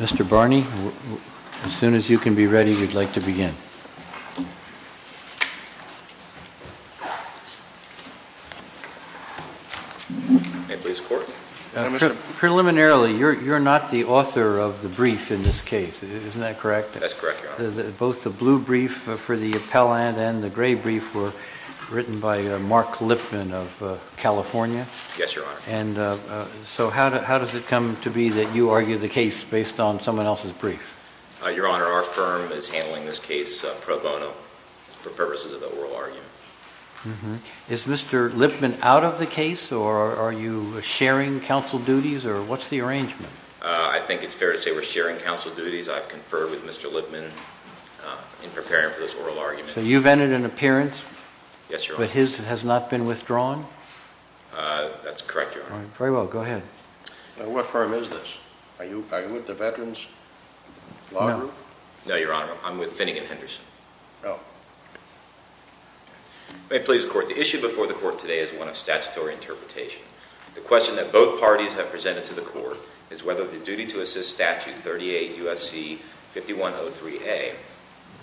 Mr. Barney, as soon as you can be ready, we'd like to begin. Preliminarily, you're not the author of the brief in this case, isn't that correct? That's correct, Your Honor. Both the blue brief for the appellant and the gray brief were written by Mark Lipman of California? Yes, Your Honor. And so how does it come to be that you argue the case based on someone else's brief? Your Honor, our firm is handling this case pro bono for purposes of the oral argument. Is Mr. Lipman out of the case or are you sharing counsel duties or what's the arrangement? I think it's fair to say we're sharing counsel duties. I've conferred with Mr. Lipman in preparing for this oral argument. So you've entered an appearance? Yes, Your Honor. But his has not been withdrawn? That's correct, Your Honor. Very well, go ahead. Now what firm is this? Are you with the Veterans Law Group? No, Your Honor. I'm with Finnegan Henderson. Oh. May it please the Court, the issue before the Court today is one of statutory interpretation. The question that both parties have presented to the Court is whether the duty to assist Statute 38 U.S.C. 5103A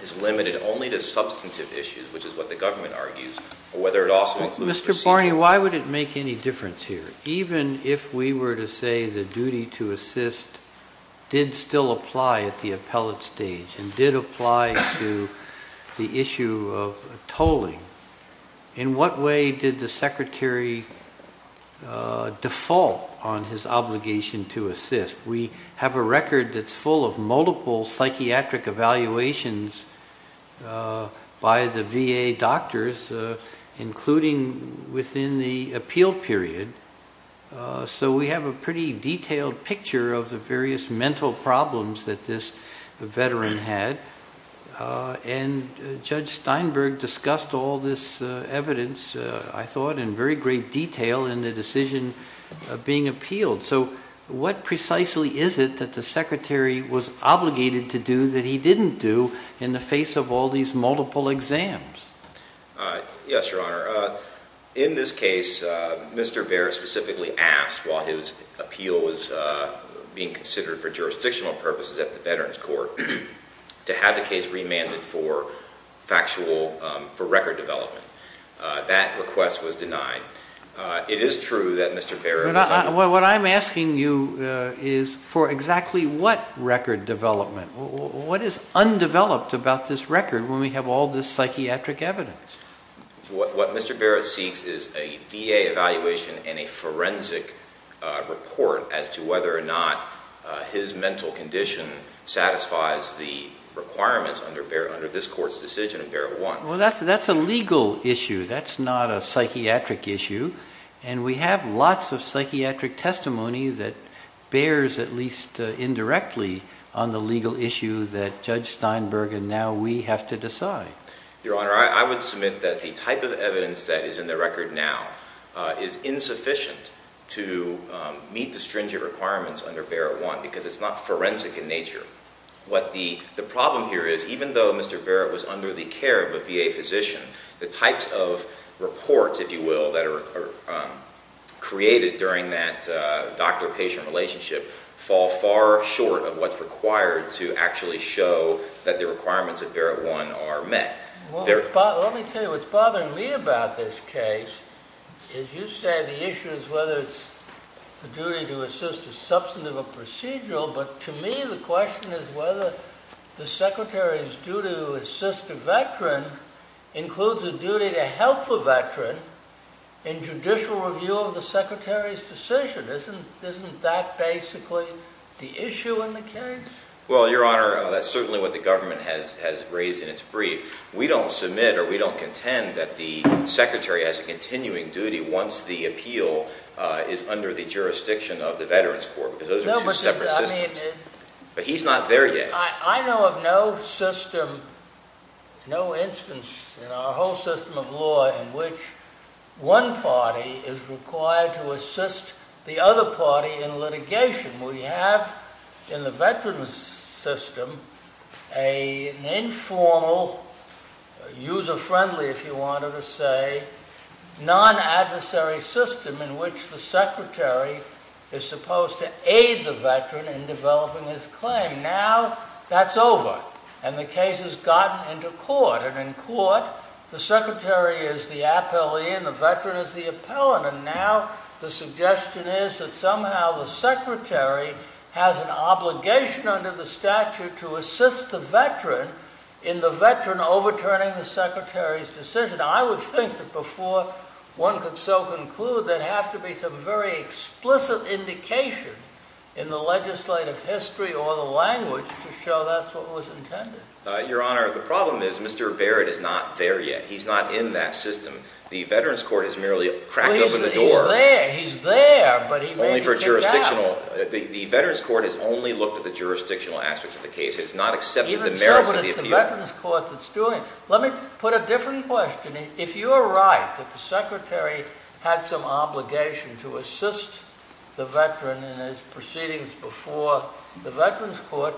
is limited only to substantive issues, which is what the government argues, or whether it also includes procedure. Mr. Cornyn, why would it make any difference here? Even if we were to say the duty to assist did still apply at the appellate stage and did apply to the issue of tolling, in what way did the Secretary default on his obligation to assist? We have a record that's full of multiple psychiatric evaluations by the VA doctors, including within the appeal period. So we have a pretty detailed picture of the various mental problems that this veteran had. And Judge Steinberg discussed all this evidence, I thought, in very great detail in the decision being appealed. So what precisely is it that the Secretary was obligated to do that he didn't do in the face of all these multiple exams? Yes, Your Honor. In this case, Mr. Baer specifically asked, while his appeal was being considered for jurisdictional purposes at the Veterans Court, to have the case remanded for factual, for record development. That request was denied. It is true that Mr. Baer- What I'm asking you is for exactly what record development? What is undeveloped about this record when we have all this psychiatric evidence? What Mr. Baer seeks is a VA evaluation and a forensic report as to whether or not his mental condition satisfies the requirements under this Court's decision in Barrel 1. Well, that's a legal issue. That's not a psychiatric issue. And we have lots of psychiatric testimony that bears, at least indirectly, on the legal issue that Judge Steinberg and now we have to decide. Your Honor, I would submit that the type of evidence that is in the record now is insufficient to meet the stringent requirements under Barrel 1 because it's not forensic in nature. What the problem here is, even though Mr. Baer was under the care of a VA physician, the types of reports, if you will, that are created during that doctor-patient relationship fall far short of what's required to actually show that the requirements of Barrel 1 are met. Let me tell you, what's bothering me about this case is you say the issue is whether it's the duty to assist a substantive or procedural, but to me the question is whether the Secretary's duty to assist a veteran includes a duty to help the veteran in judicial review of the Secretary's decision. Isn't that basically the issue in the case? Well, Your Honor, that's certainly what the government has raised in its brief. We don't submit or we don't contend that the Secretary has a continuing duty once the appeal is under the jurisdiction of the Veterans Court because those are two separate systems. But he's not there yet. I know of no system, no instance in our whole system of law in which one party is required to assist the other party in litigation. We have in the veterans' system an informal, user-friendly, if you wanted to say, non-adversary system in which the Secretary is supposed to aid the veteran in developing his claim. Now that's over, and the case has gotten into court, and in court the Secretary is the appellee and the veteran is the appellant. And now the suggestion is that somehow the Secretary has an obligation under the statute to assist the veteran in the veteran overturning the Secretary's decision. I would think that before one could so conclude there'd have to be some very explicit indication in the legislative history or the language to show that's what was intended. Your Honor, the problem is Mr. Barrett is not there yet. He's not in that system. The Veterans Court has merely cracked open the door. He's there, he's there, but he may be coming back. The Veterans Court has only looked at the jurisdictional aspects of the case. It has not accepted the merits of the appeal. Even so, but it's the Veterans Court that's doing it. Let me put a different question. If you're right that the Secretary had some obligation to assist the veteran in his proceedings before the Veterans Court,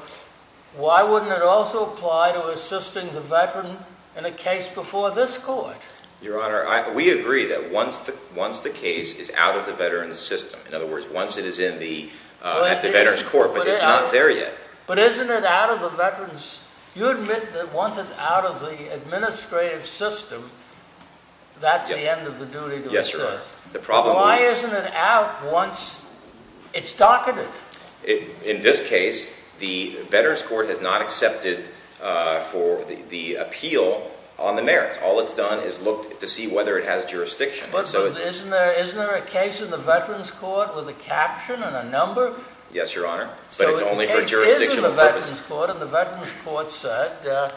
why wouldn't it also apply to assisting the veteran in a case before this court? Your Honor, we agree that once the case is out of the veteran's system, in other words, once it is at the Veterans Court, but it's not there yet. But isn't it out of the veterans? You admit that once it's out of the administrative system, that's the end of the duty to assist. Yes, Your Honor. Why isn't it out once it's docketed? In this case, the Veterans Court has not accepted the appeal on the merits. All it's done is look to see whether it has jurisdiction. Isn't there a case in the Veterans Court with a caption and a number? Yes, Your Honor, but it's only for jurisdictional purposes. So the case is in the Veterans Court, and the Veterans Court said,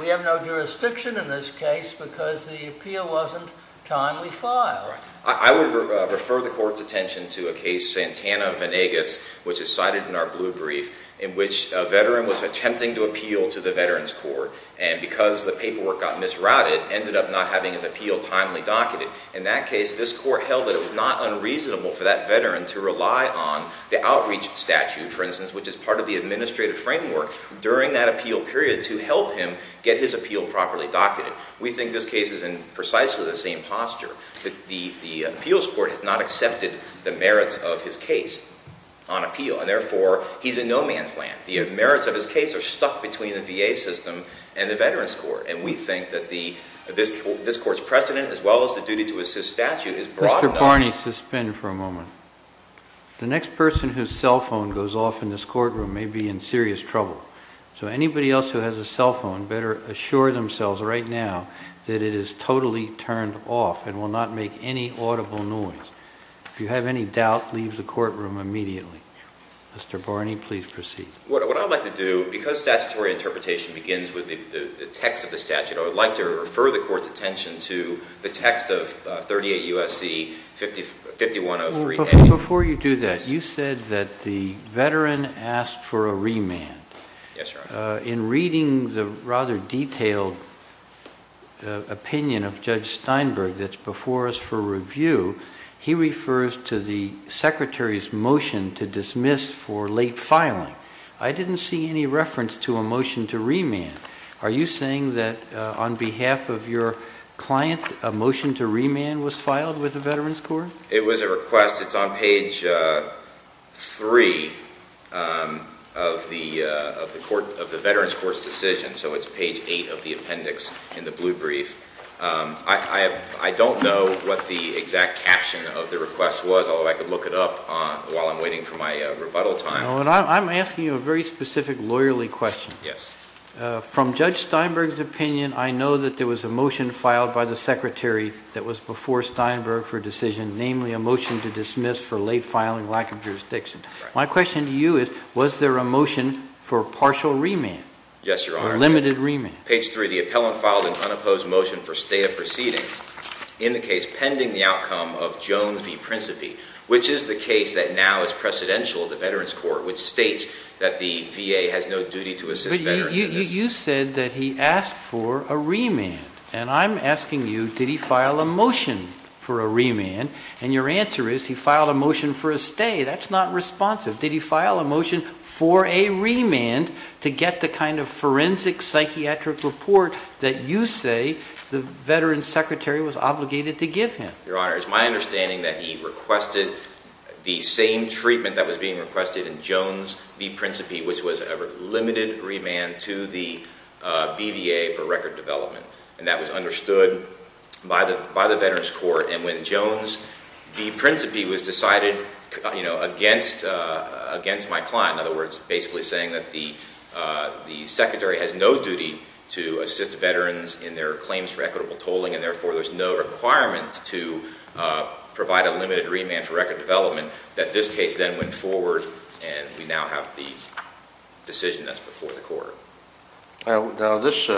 we have no jurisdiction in this case because the appeal wasn't timely filed. I would refer the Court's attention to a case, Santana-Vanegas, which is cited in our blue brief, in which a veteran was attempting to appeal to the Veterans Court. And because the paperwork got misrouted, ended up not having his appeal timely docketed. In that case, this Court held that it was not unreasonable for that veteran to rely on the outreach statute, for instance, which is part of the administrative framework during that appeal period to help him get his appeal properly docketed. We think this case is in precisely the same posture. The Appeals Court has not accepted the merits of his case on appeal, and therefore, he's in no man's land. The merits of his case are stuck between the VA system and the Veterans Court. And we think that this Court's precedent, as well as the duty to assist statute, is broad enough. Mr. Barney, suspend for a moment. The next person whose cell phone goes off in this courtroom may be in serious trouble. So anybody else who has a cell phone better assure themselves right now that it is totally turned off and will not make any audible noise. If you have any doubt, leave the courtroom immediately. Mr. Barney, please proceed. What I would like to do, because statutory interpretation begins with the text of the statute, I would like to refer the Court's attention to the text of 38 U.S.C. 5103A. Before you do that, you said that the veteran asked for a remand. Yes, Your Honor. In reading the rather detailed opinion of Judge Steinberg that's before us for review, he refers to the Secretary's motion to dismiss for late filing. I didn't see any reference to a motion to remand. Are you saying that on behalf of your client, a motion to remand was filed with the Veterans Court? It was a request. It's on page 3 of the Veterans Court's decision, so it's page 8 of the appendix in the blue brief. I don't know what the exact caption of the request was, although I could look it up while I'm waiting for my rebuttal time. I'm asking you a very specific lawyerly question. Yes. From Judge Steinberg's opinion, I know that there was a motion filed by the Secretary that was before Steinberg for decision, namely a motion to dismiss for late filing, lack of jurisdiction. My question to you is, was there a motion for partial remand? Yes, Your Honor. Or limited remand? Page 3, the appellant filed an unopposed motion for stay of proceeding in the case pending the outcome of Jones v. Principe, which is the case that now is precedential to the Veterans Court, which states that the VA has no duty to assist veterans in this case. You said that he asked for a remand, and I'm asking you, did he file a motion for a remand? And your answer is he filed a motion for a stay. That's not responsive. Did he file a motion for a remand to get the kind of forensic psychiatric report that you say the Veterans Secretary was obligated to give him? Your Honor, it's my understanding that he requested the same treatment that was being requested in Jones v. Principe, which was a limited remand to the BVA for record development, and that was understood by the Veterans Court. And when Jones v. Principe was decided against my client, in other words, basically saying that the Secretary has no duty to assist veterans in their claims for equitable tolling, and therefore there's no requirement to provide a limited remand for record development, that this case then went forward and we now have the decision that's before the Court. Now, this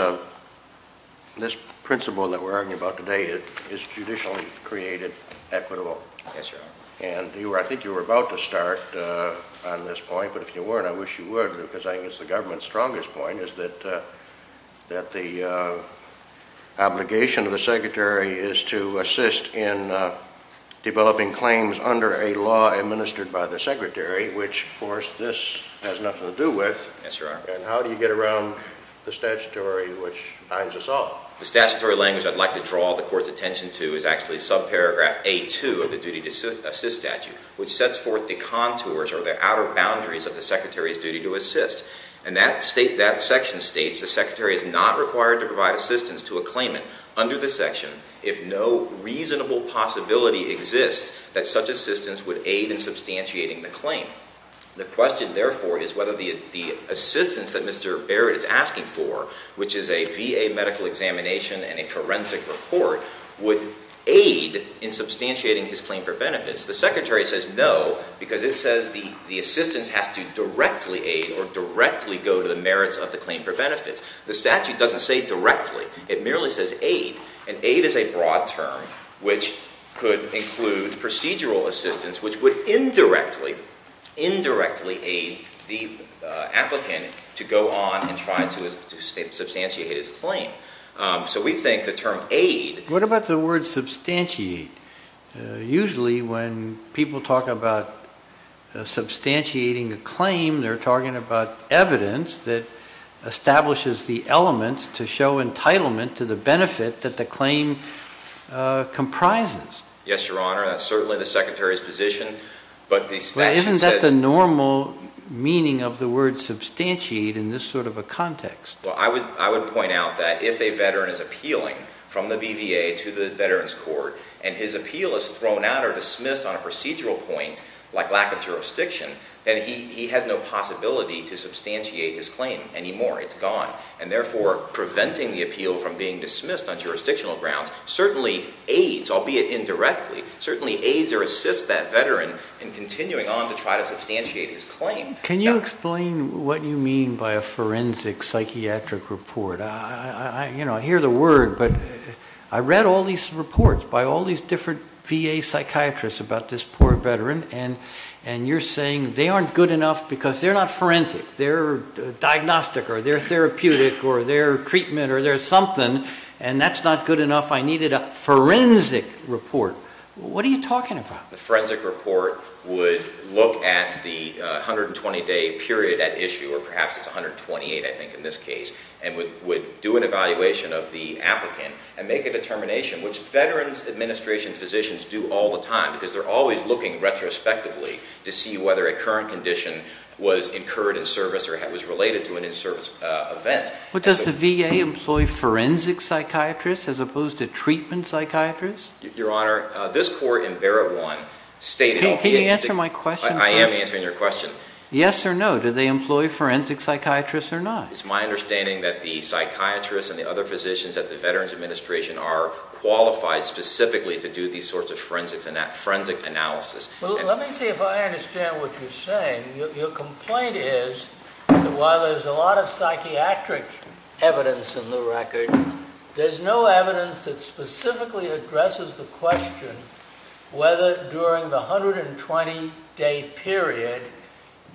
principle that we're arguing about today is judicially created equitable. Yes, Your Honor. And I think you were about to start on this point, but if you weren't, I wish you would, because I think it's the government's strongest point is that the obligation of the Secretary is to assist in developing claims under a law administered by the Secretary, which, of course, this has nothing to do with. Yes, Your Honor. And how do you get around the statutory, which binds us all? The statutory language I'd like to draw the Court's attention to is actually subparagraph A-2 of the duty to assist statute, which sets forth the contours or the outer boundaries of the Secretary's duty to assist. And that section states the Secretary is not required to provide assistance to a claimant under the section if no reasonable possibility exists that such assistance would aid in substantiating the claim. The question, therefore, is whether the assistance that Mr. Barrett is asking for, which is a VA medical examination and a forensic report, would aid in substantiating his claim for benefits. The Secretary says no because it says the assistance has to directly aid or directly go to the merits of the claim for benefits. The statute doesn't say directly. It merely says aid, and aid is a broad term which could include procedural assistance, which would indirectly, indirectly aid the applicant to go on and try to substantiate his claim. So we think the term aid- What about the word substantiate? Usually when people talk about substantiating a claim, they're talking about evidence that establishes the elements to show entitlement to the benefit that the claim comprises. Yes, Your Honor. That's certainly the Secretary's position, but the statute says- But isn't that the normal meaning of the word substantiate in this sort of a context? Well, I would point out that if a veteran is appealing from the BVA to the Veterans Court and his appeal is thrown out or dismissed on a procedural point like lack of jurisdiction, then he has no possibility to substantiate his claim anymore. It's gone. And therefore, preventing the appeal from being dismissed on jurisdictional grounds certainly aids, albeit indirectly, certainly aids or assists that veteran in continuing on to try to substantiate his claim. Can you explain what you mean by a forensic psychiatric report? I hear the word, but I read all these reports by all these different VA psychiatrists about this poor veteran, and you're saying they aren't good enough because they're not forensic. They're diagnostic or they're therapeutic or they're treatment or they're something, and that's not good enough. I needed a forensic report. What are you talking about? The forensic report would look at the 120-day period at issue, or perhaps it's 128, I think, in this case, and would do an evaluation of the applicant and make a determination, which Veterans Administration physicians do all the time because they're always looking retrospectively to see whether a current condition was incurred in service or was related to an in-service event. But does the VA employ forensic psychiatrists as opposed to treatment psychiatrists? Your Honor, this court in Barrett 1 stated all the agency. Can you answer my question, sir? I am answering your question. Yes or no, do they employ forensic psychiatrists or not? It's my understanding that the psychiatrists and the other physicians at the Veterans Administration are qualified specifically to do these sorts of forensic analysis. Well, let me see if I understand what you're saying. Your complaint is that while there's a lot of psychiatric evidence in the record, there's no evidence that specifically addresses the question whether during the 120-day period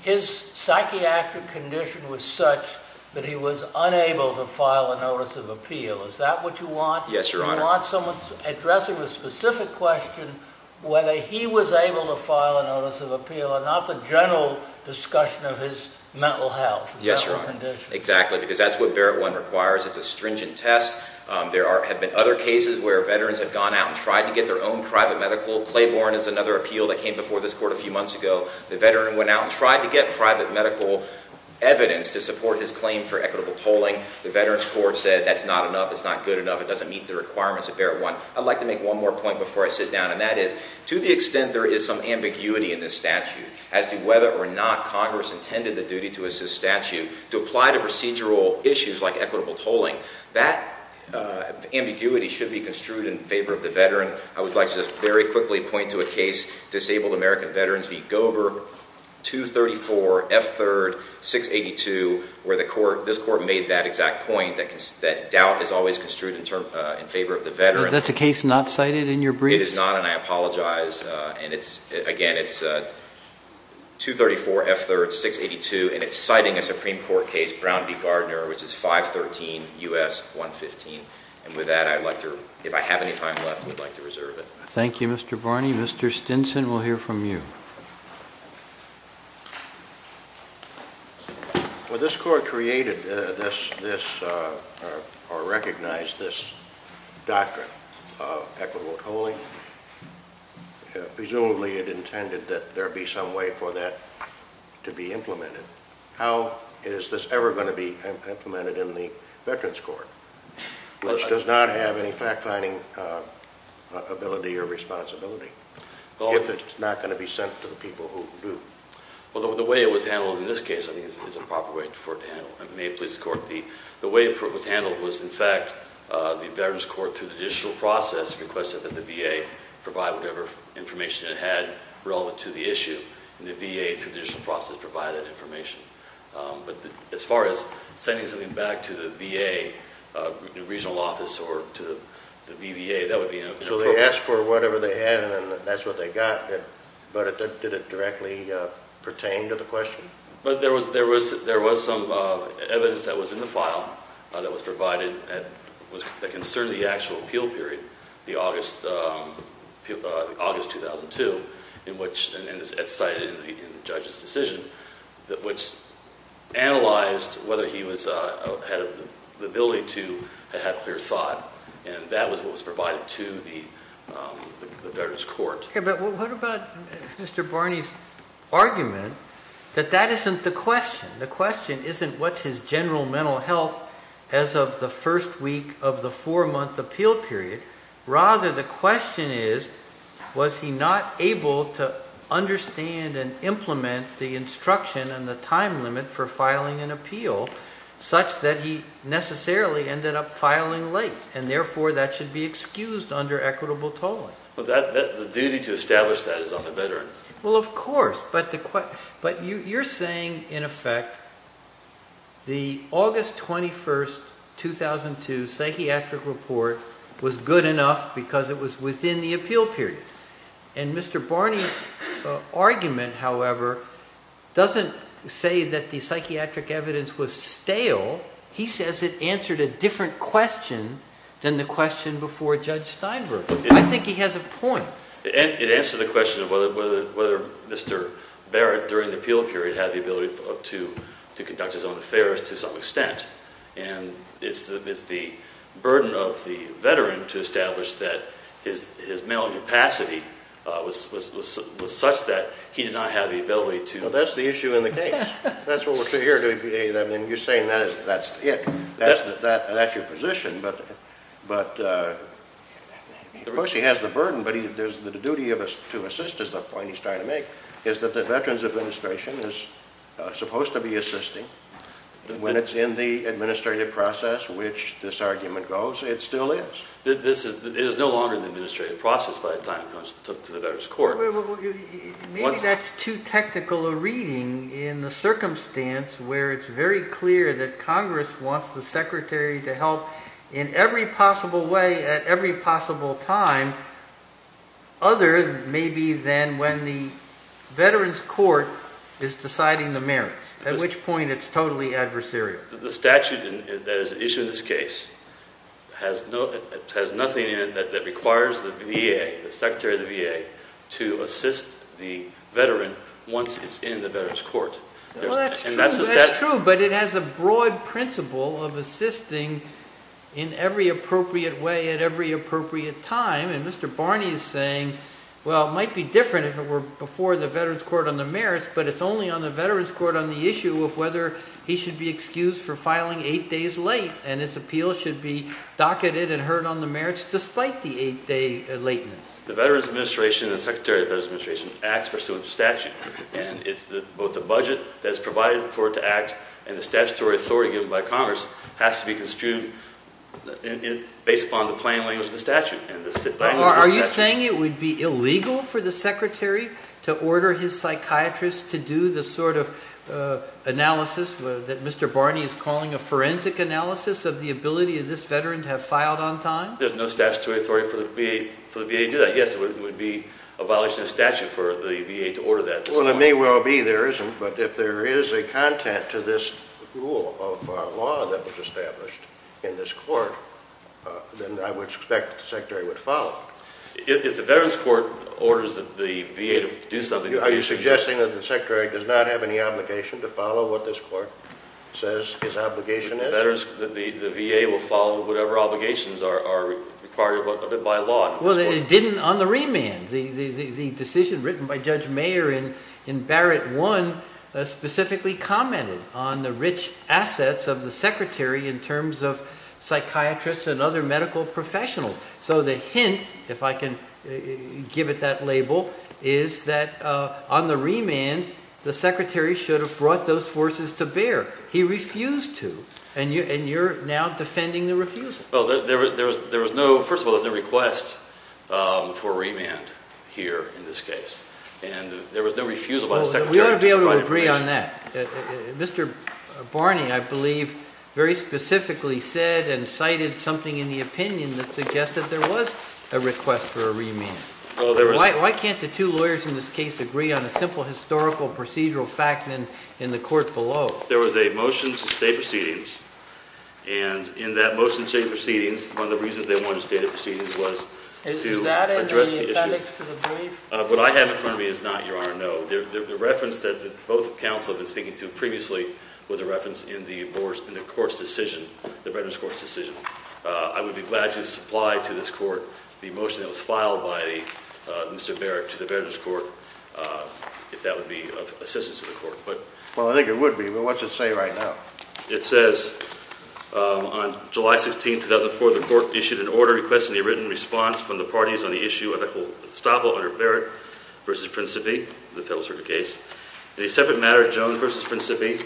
his psychiatric condition was such that he was unable to file a notice of appeal. Is that what you want? Yes, Your Honor. You want someone addressing the specific question whether he was able to file a notice of appeal and not the general discussion of his mental health and mental condition. Yes, Your Honor, exactly, because that's what Barrett 1 requires. It's a stringent test. There have been other cases where Veterans have gone out and tried to get their own private medical. Claiborne is another appeal that came before this court a few months ago. The Veteran went out and tried to get private medical evidence to support his claim for equitable tolling. The Veterans Court said that's not enough, it's not good enough, it doesn't meet the requirements of Barrett 1. I'd like to make one more point before I sit down, and that is to the extent there is some ambiguity in this statute as to whether or not Congress intended the duty to assist statute to apply to procedural issues like equitable tolling, that ambiguity should be construed in favor of the Veteran. I would like to just very quickly point to a case, Disabled American Veterans v. Gober, 234F3-682, where this court made that exact point that doubt is always construed in favor of the Veteran. That's a case not cited in your briefs? It is not, and I apologize. Again, it's 234F3-682, and it's citing a Supreme Court case, Brown v. Gardner, which is 513 U.S. 115. And with that, if I have any time left, I would like to reserve it. Thank you, Mr. Barney. Mr. Stinson, we'll hear from you. Well, this court created this or recognized this doctrine of equitable tolling. Presumably it intended that there be some way for that to be implemented. How is this ever going to be implemented in the Veterans Court, which does not have any fact-finding ability or responsibility, if it's not going to be sent to the people who do? Well, the way it was handled in this case, I think, is a proper way for it to handle. May it please the Court, the way it was handled was, in fact, the Veterans Court, through the judicial process, requested that the VA provide whatever information it had relevant to the issue. And the VA, through the judicial process, provided that information. But as far as sending something back to the VA regional office or to the VBA, that would be inappropriate. So they asked for whatever they had, and that's what they got. But did it directly pertain to the question? There was some evidence that was in the file that was provided that concerned the actual appeal period, the August 2002, and it's cited in the judge's decision, which analyzed whether he had the ability to have clear thought. And that was what was provided to the Veterans Court. Okay, but what about Mr. Barney's argument that that isn't the question? The question isn't what's his general mental health as of the first week of the four-month appeal period. Rather, the question is, was he not able to understand and implement the instruction and the time limit for filing an appeal such that he necessarily ended up filing late, and therefore that should be excused under equitable tolling? The duty to establish that is on the Veteran. Well, of course, but you're saying, in effect, the August 21, 2002 psychiatric report was good enough because it was within the appeal period. And Mr. Barney's argument, however, doesn't say that the psychiatric evidence was stale. He says it answered a different question than the question before Judge Steinberg. I think he has a point. It answered the question of whether Mr. Barrett, during the appeal period, had the ability to conduct his own affairs to some extent. And it's the burden of the Veteran to establish that his mental capacity was such that he did not have the ability to... Well, that's the issue in the case. That's what we're saying here. I mean, you're saying that's it. That's your position. But, of course, he has the burden, but the duty to assist is the point he's trying to make, is that the Veterans Administration is supposed to be assisting. When it's in the administrative process which this argument goes, it still is. It is no longer in the administrative process by the time it comes to the Veterans Court. Maybe that's too technical a reading in the circumstance where it's very clear that Congress wants the Secretary to help in every possible way at every possible time other maybe than when the Veterans Court is deciding the merits, at which point it's totally adversarial. The statute that is issued in this case has nothing in it that requires the VA, the Secretary of the VA, to assist the Veteran once it's in the Veterans Court. Well, that's true, but it has a broad principle of assisting in every appropriate way at every appropriate time. And Mr. Barney is saying, well, it might be different if it were before the Veterans Court on the merits, but it's only on the Veterans Court on the issue of whether he should be excused for filing eight days late and his appeal should be docketed and heard on the merits despite the eight-day lateness. The Veterans Administration and the Secretary of the Veterans Administration acts pursuant to statute. And it's both the budget that's provided for it to act and the statutory authority given by Congress has to be construed based upon the plain language of the statute. Are you saying it would be illegal for the Secretary to order his psychiatrist to do the sort of analysis that Mr. Barney is calling a forensic analysis of the ability of this Veteran to have filed on time? There's no statutory authority for the VA to do that. Yes, it would be a violation of statute for the VA to order that. Well, it may well be there isn't. But if there is a content to this rule of law that was established in this court, then I would expect that the Secretary would follow it. If the Veterans Court orders the VA to do something, are you suggesting that the Secretary does not have any obligation to follow what this court says his obligation is? The VA will follow whatever obligations are required of it by law. Well, it didn't on the remand. The decision written by Judge Mayer in Barrett I specifically commented on the rich assets of the Secretary in terms of psychiatrists and other medical professionals. So the hint, if I can give it that label, is that on the remand, the Secretary should have brought those forces to bear. He refused to, and you're now defending the refusal. Well, first of all, there was no request for a remand here in this case, and there was no refusal by the Secretary to provide information. We ought to be able to agree on that. Mr. Barney, I believe, very specifically said and cited something in the opinion that suggested there was a request for a remand. Why can't the two lawyers in this case agree on a simple historical procedural fact in the court below? Well, there was a motion to stay proceedings, and in that motion to stay proceedings, one of the reasons they wanted to stay the proceedings was to address the issue. What I have in front of me is not, Your Honor, no. The reference that both counsel have been speaking to previously was a reference in the court's decision, the Veterans Court's decision. I would be glad to supply to this court the motion that was filed by Mr. Barrett to the Veterans Court if that would be of assistance to the court. Well, I think it would be. Well, what's it say right now? It says, on July 16, 2004, the court issued an order requesting a written response from the parties on the issue of the whole estoppel under Barrett v. Principi, the Federal Circuit case. In a separate matter, Jones v. Principi,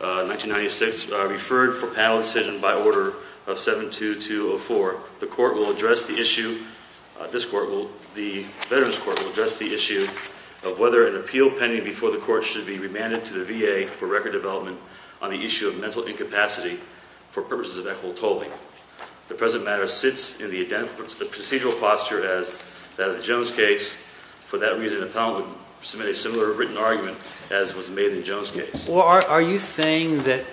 1996, referred for panel decision by order of 72204, the Veterans Court will address the issue of whether an appeal pending before the court should be remanded to the VA for record development on the issue of mental incapacity for purposes of equitable tolling. The present matter sits in the procedural posture as that of the Jones case. For that reason, the panel would submit a similar written argument as was made in the Jones case. Well, are you saying that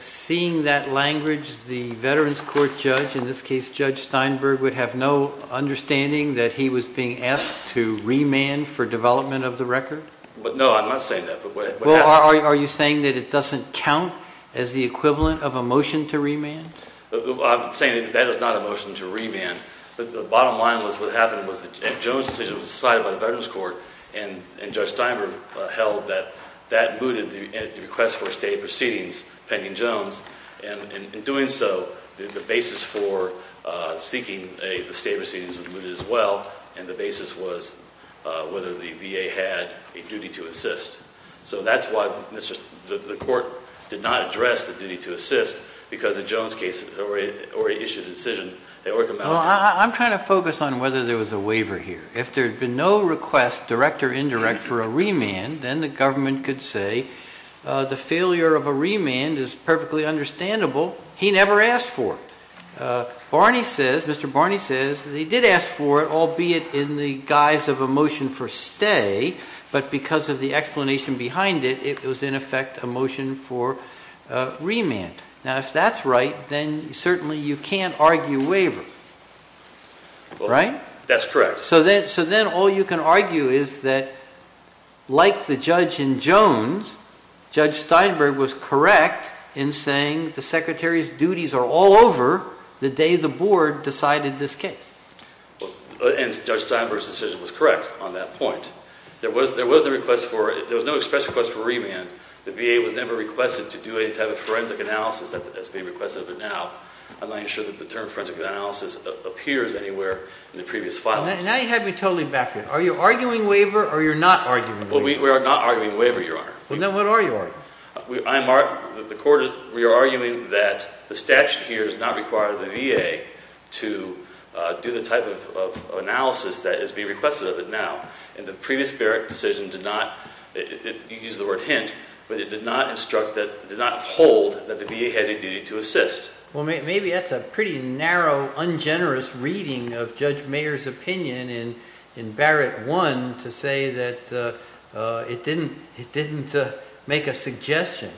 seeing that language, the Veterans Court judge, in this case Judge Steinberg, would have no understanding that he was being asked to remand for development of the record? No, I'm not saying that. Well, are you saying that it doesn't count as the equivalent of a motion to remand? I'm saying that that is not a motion to remand. The bottom line was what happened was that Jones' decision was decided by the Veterans Court, and Judge Steinberg held that that mooted the request for state proceedings pending Jones, and in doing so, the basis for seeking the state proceedings was mooted as well, and the basis was whether the VA had a duty to assist. So that's why the court did not address the duty to assist because the Jones case already issued a decision. Well, I'm trying to focus on whether there was a waiver here. If there had been no request, direct or indirect, for a remand, then the government could say the failure of a remand is perfectly understandable. He never asked for it. Mr. Barney says that he did ask for it, albeit in the guise of a motion for stay, but because of the explanation behind it, it was, in effect, a motion for remand. Now, if that's right, then certainly you can't argue waiver, right? That's correct. So then all you can argue is that, like the judge in Jones, Judge Steinberg was correct in saying the secretary's duties are all over the day the board decided this case. And Judge Steinberg's decision was correct on that point. There was no express request for remand. The VA was never requested to do any type of forensic analysis as is being requested, I'm not even sure that the term forensic analysis appears anywhere in the previous filings. Now you have me totally baffled. Are you arguing waiver or you're not arguing waiver? We are not arguing waiver, Your Honor. Then what are you arguing? We are arguing that the statute here does not require the VA to do the type of analysis that is being requested of it now. And the previous Barrett decision did not, you used the word hint, but it did not hold that the VA has a duty to assist. Well, maybe that's a pretty narrow, ungenerous reading of Judge Mayer's opinion in Barrett I to say that it didn't make a suggestion.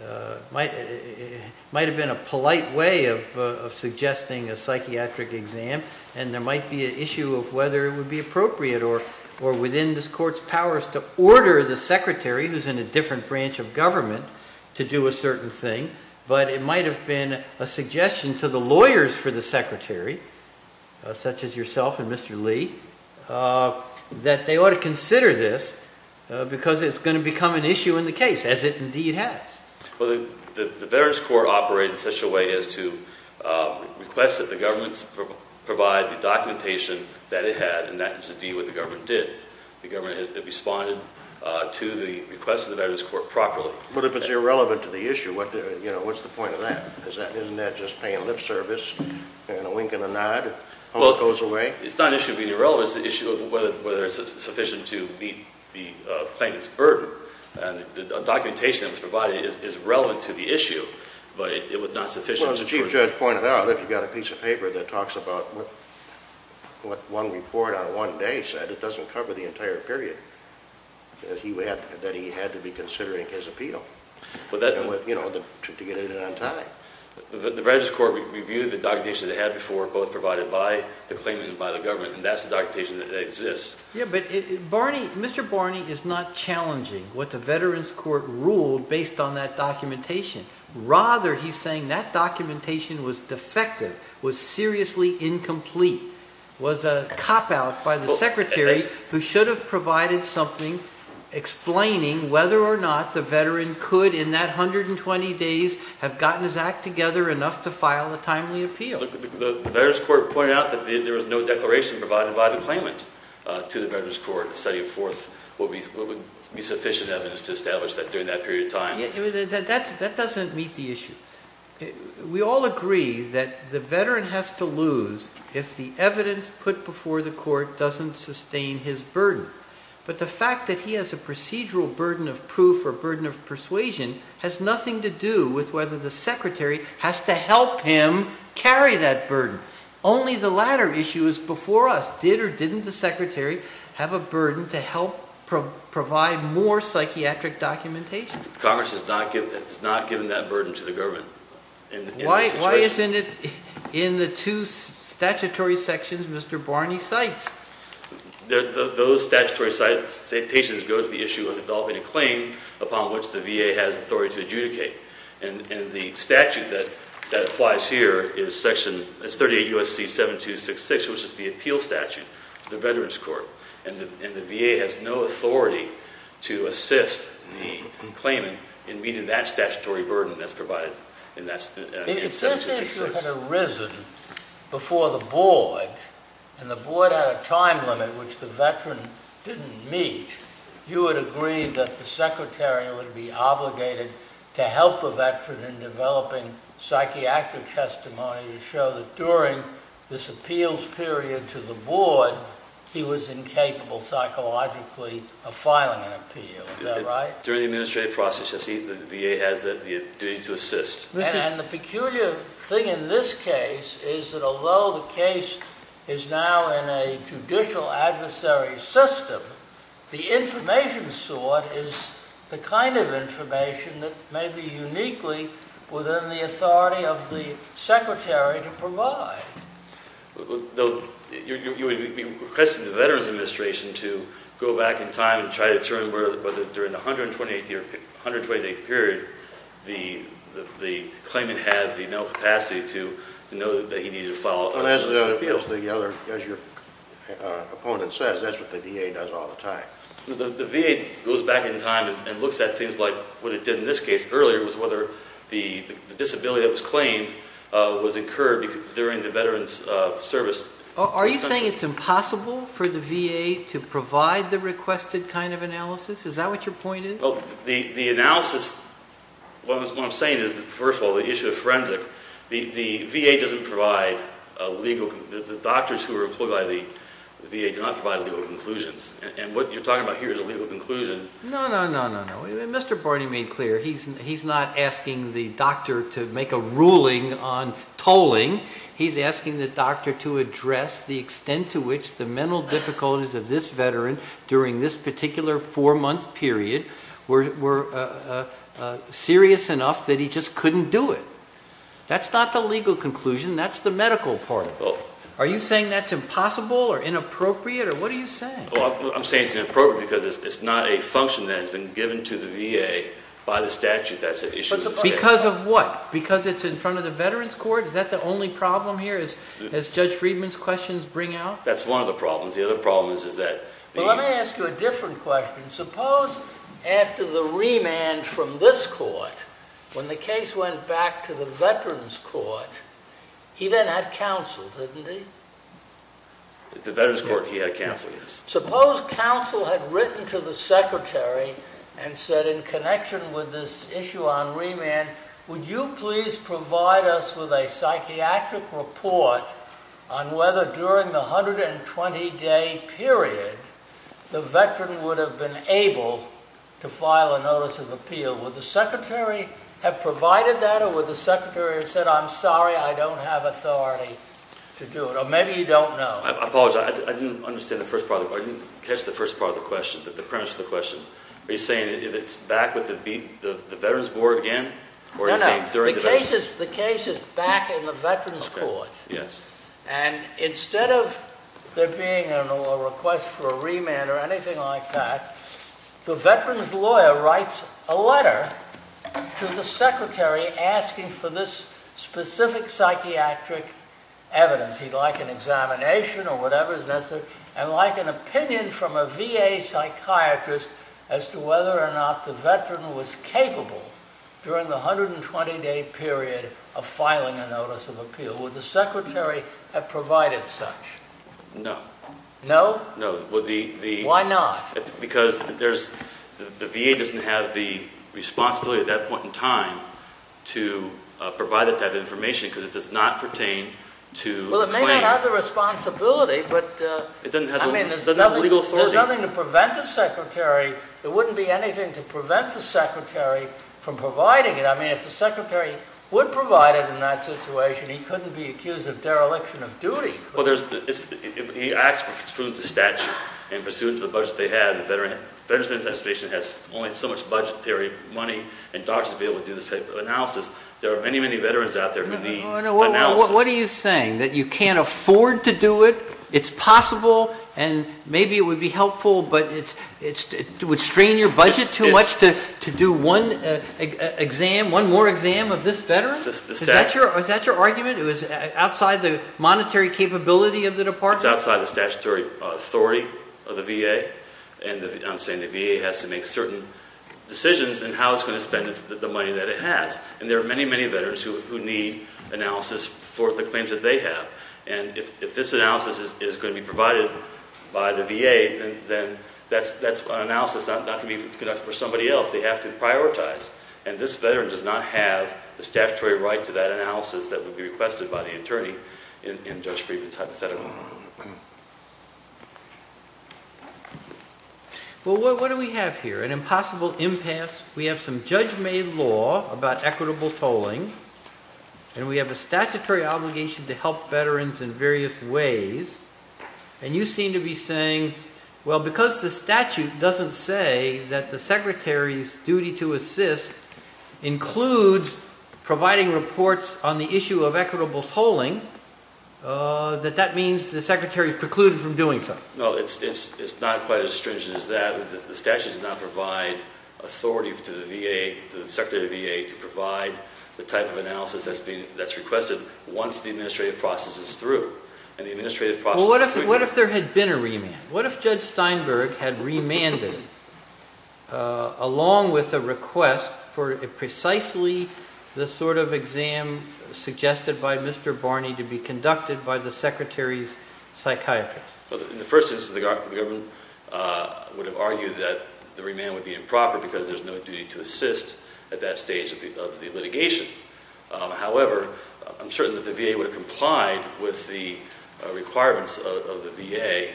It might have been a polite way of suggesting a psychiatric exam and there might be an issue of whether it would be appropriate or within this court's powers to order the secretary, who's in a different branch of government, to do a certain thing. But it might have been a suggestion to the lawyers for the secretary, such as yourself and Mr. Lee, that they ought to consider this because it's going to become an issue in the case, as it indeed has. Well, the Veterans Court operated in such a way as to request that the government provide the documentation that it had, and that is indeed what the government did. The government responded to the request of the Veterans Court properly. But if it's irrelevant to the issue, what's the point of that? Isn't that just paying lip service and a wink and a nod? Well, it's not an issue of being irrelevant. It's an issue of whether it's sufficient to meet the plaintiff's burden. And the documentation that was provided is relevant to the issue, but it was not sufficient. Well, as the Chief Judge pointed out, if you've got a piece of paper that talks about what one report on one day said, it doesn't cover the entire period that he had to be considering his appeal to get it in on time. The Veterans Court reviewed the documentation they had before, both provided by the claimant and by the government, and that's the documentation that exists. Yeah, but Mr. Barney is not challenging what the Veterans Court ruled based on that documentation. Rather, he's saying that documentation was defective, was seriously incomplete, was a cop-out by the Secretary who should have provided something explaining whether or not the veteran could, in that 120 days, have gotten his act together enough to file a timely appeal. The Veterans Court pointed out that there was no declaration provided by the claimant to the Veterans Court, setting forth what would be sufficient evidence to establish that during that period of time. That doesn't meet the issue. We all agree that the veteran has to lose if the evidence put before the court doesn't sustain his burden. But the fact that he has a procedural burden of proof or burden of persuasion has nothing to do with whether the Secretary has to help him carry that burden. Only the latter issue is before us. Did or didn't the Secretary have a burden to help provide more psychiatric documentation? Congress has not given that burden to the government in this situation. Why isn't it in the two statutory sections Mr. Barney cites? Those statutory citations go to the issue of developing a claim upon which the VA has authority to adjudicate. And the statute that applies here is 38 U.S.C. 7266, which is the appeal statute to the Veterans Court. And the VA has no authority to assist the claimant in meeting that statutory burden that's provided in 7266. If this issue had arisen before the board, and the board had a time limit which the veteran didn't meet, you would agree that the Secretary would be obligated to help the veteran in developing psychiatric testimony to show that during this appeals period to the board, he was incapable psychologically of filing an appeal. Is that right? During the administrative process, the VA has the duty to assist. And the peculiar thing in this case is that although the case is now in a judicial adversary system, the information sought is the kind of information that may be uniquely within the authority of the Secretary to provide. You would be requesting the Veterans Administration to go back in time and try to determine whether during the 128-day period the claimant had the mental capacity to know that he needed to file appeals. As your opponent says, that's what the VA does all the time. The VA goes back in time and looks at things like what it did in this case earlier, whether the disability that was claimed was incurred during the veteran's service. Are you saying it's impossible for the VA to provide the requested kind of analysis? Is that what your point is? The analysis, what I'm saying is, first of all, the issue of forensic. The VA doesn't provide legal, the doctors who are employed by the VA do not provide legal conclusions. And what you're talking about here is a legal conclusion. No, no, no, no, no. Mr. Barney made clear he's not asking the doctor to make a ruling on tolling. He's asking the doctor to address the extent to which the mental difficulties of this veteran during this particular four-month period were serious enough that he just couldn't do it. That's not the legal conclusion. That's the medical part of it. Are you saying that's impossible or inappropriate, or what are you saying? I'm saying it's inappropriate because it's not a function that has been given to the VA by the statute. That's the issue. Because of what? Because it's in front of the veterans' court? Is that the only problem here, as Judge Friedman's questions bring out? That's one of the problems. The other problem is that the— Well, let me ask you a different question. Suppose after the remand from this court, when the case went back to the veterans' court, he then had counsel, didn't he? The veterans' court, he had counsel, yes. Suppose counsel had written to the secretary and said, in connection with this issue on remand, would you please provide us with a psychiatric report on whether during the 120-day period the veteran would have been able to file a notice of appeal? Would the secretary have provided that, or would the secretary have said, I'm sorry, I don't have authority to do it? Or maybe you don't know. I apologize. I didn't catch the first part of the question, the premise of the question. Are you saying it's back with the veterans' board again? No, no. The case is back in the veterans' court. And instead of there being a request for a remand or anything like that, the veterans' lawyer writes a letter to the secretary asking for this specific psychiatric evidence. He'd like an examination or whatever is necessary. And he'd like an opinion from a VA psychiatrist as to whether or not the veteran was capable during the 120-day period of filing a notice of appeal. Would the secretary have provided such? No. No? No. Why not? Because the VA doesn't have the responsibility at that point in time to provide that type of information because it does not pertain to the claim. Well, it may not have the responsibility, but it doesn't have the legal authority. There's nothing to prevent the secretary. There wouldn't be anything to prevent the secretary from providing it. I mean, if the secretary would provide it in that situation, he couldn't be accused of dereliction of duty. Well, he asked for the statute and pursuant to the budget they had, the Veterans Administration has only so much budgetary money and dollars to be able to do this type of analysis. There are many, many veterans out there who need analysis. What are you saying, that you can't afford to do it? It's possible and maybe it would be helpful, but it would strain your budget too much to do one exam, one more exam of this veteran? Is that your argument? It was outside the monetary capability of the department? It's outside the statutory authority of the VA. And I'm saying the VA has to make certain decisions in how it's going to spend the money that it has. And there are many, many veterans who need analysis for the claims that they have. And if this analysis is going to be provided by the VA, then that's an analysis not going to be conducted for somebody else. They have to prioritize. And this veteran does not have the statutory right to that analysis that would be requested by the attorney in Judge Friedman's hypothetical. Well, what do we have here? An impossible impasse. We have some judge-made law about equitable tolling. And we have a statutory obligation to help veterans in various ways. And you seem to be saying, well, because the statute doesn't say that the secretary's duty to assist includes providing reports on the issue of equitable tolling, that that means the secretary precluded from doing so. No, it's not quite as stringent as that. The statute does not provide authority to the VA, to the Secretary of the VA, to provide the type of analysis that's requested once the administrative process is through. Well, what if there had been a remand? What if Judge Steinberg had remanded along with a request for precisely the sort of exam suggested by Mr. Barney to be conducted by the secretary's psychiatrist? Well, in the first instance, the government would have argued that the remand would be improper because there's no duty to assist at that stage of the litigation. However, I'm certain that the VA would have complied with the requirements of the VA,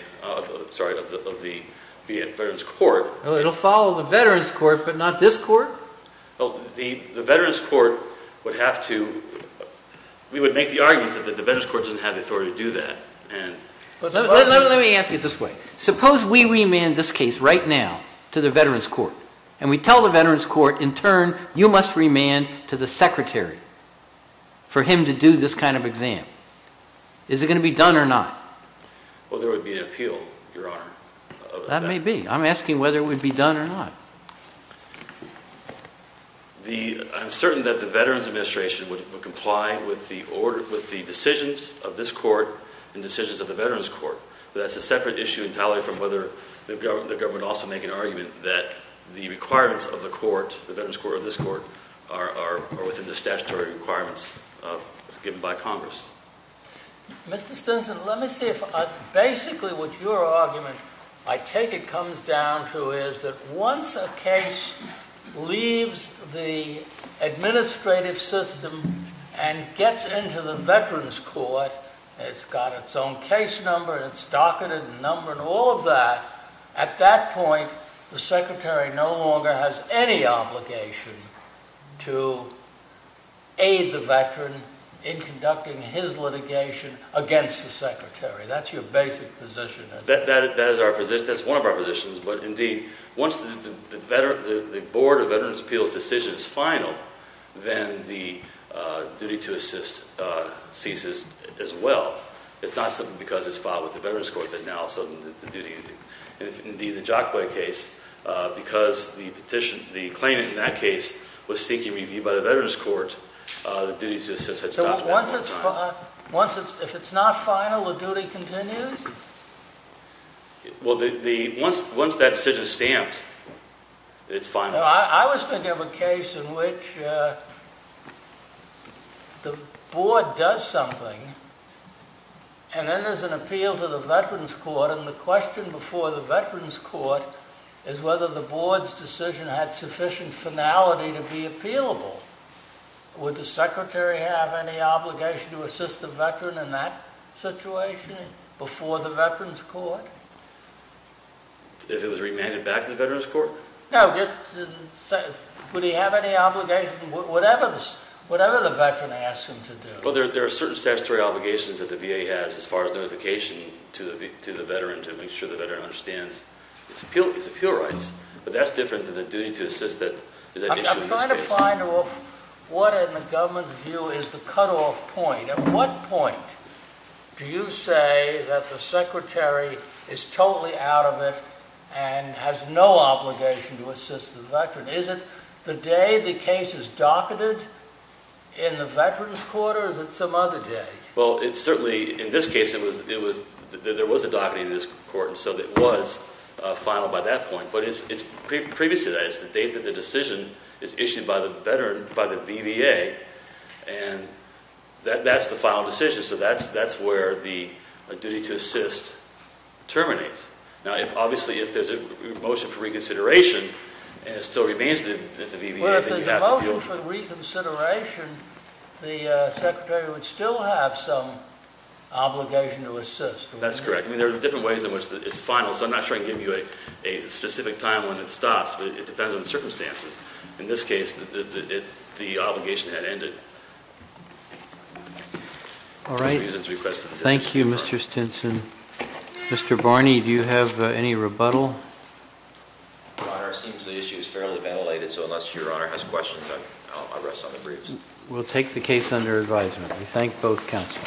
sorry, of the Veterans Court. Well, it'll follow the Veterans Court, but not this court? Well, the Veterans Court would have to, we would make the argument that the Veterans Court doesn't have the authority to do that. Let me ask you this way. Suppose we remand this case right now to the Veterans Court, and we tell the Veterans Court, in turn, you must remand to the secretary for him to do this kind of exam. Is it going to be done or not? Well, there would be an appeal, Your Honor. That may be. I'm asking whether it would be done or not. I'm certain that the Veterans Administration would comply with the decisions of this court and decisions of the Veterans Court. But that's a separate issue entirely from whether the government would also make an argument that the requirements of the court, the Veterans Court or this court, are within the statutory requirements given by Congress. Mr. Stinson, let me see if, basically, what your argument, I take it, comes down to is that once a case leaves the administrative system and gets into the Veterans Court, it's got its own case number and its docketed number and all of that, at that point, the secretary no longer has any obligation to aid the veteran in conducting his litigation against the secretary. That's your basic position. That is our position. That's one of our positions. But, indeed, once the Board of Veterans Appeals' decision is final, then the duty to assist ceases as well. It's not simply because it's filed with the Veterans Court that now, all of a sudden, the duty, indeed, the Jockway case, because the claimant in that case was seeking review by the Veterans Court, the duty to assist has stopped. If it's not final, the duty continues? Well, once that decision is stamped, it's final. I was thinking of a case in which the board does something and then there's an appeal to the Veterans Court and the question before the Veterans Court is whether the board's decision had sufficient finality to be appealable. Would the secretary have any obligation to assist the veteran in that situation before the Veterans Court? If it was remanded back to the Veterans Court? No, just, would he have any obligation, whatever the veteran asks him to do? Well, there are certain statutory obligations that the VA has as far as notification to the veteran to make sure the veteran understands his appeal rights. But that's different than the duty to assist that is an issue in this case. I'm trying to find off what, in the government's view, is the cutoff point. At what point do you say that the secretary is totally out of it and has no obligation to assist the veteran? Is it the day the case is docketed in the Veterans Court or is it some other day? Well, it's certainly, in this case, there was a docketing in this court and so it was final by that point. But it's previous to that. It's the date that the decision is issued by the veteran, by the VVA, and that's the final decision. So that's where the duty to assist terminates. Now, obviously, if there's a motion for reconsideration and it still remains at the VVA, then you have to do it. But if there's a reconsideration, the secretary would still have some obligation to assist. That's correct. I mean, there are different ways in which it's final. So I'm not trying to give you a specific time when it stops, but it depends on the circumstances. In this case, the obligation had ended. All right. Thank you, Mr. Stinson. Mr. Barney, do you have any rebuttal? Your Honor, it seems the issue is fairly ventilated, so unless Your Honor has questions, I'll rest on the briefs. We'll take the case under advisement. We thank both counsel.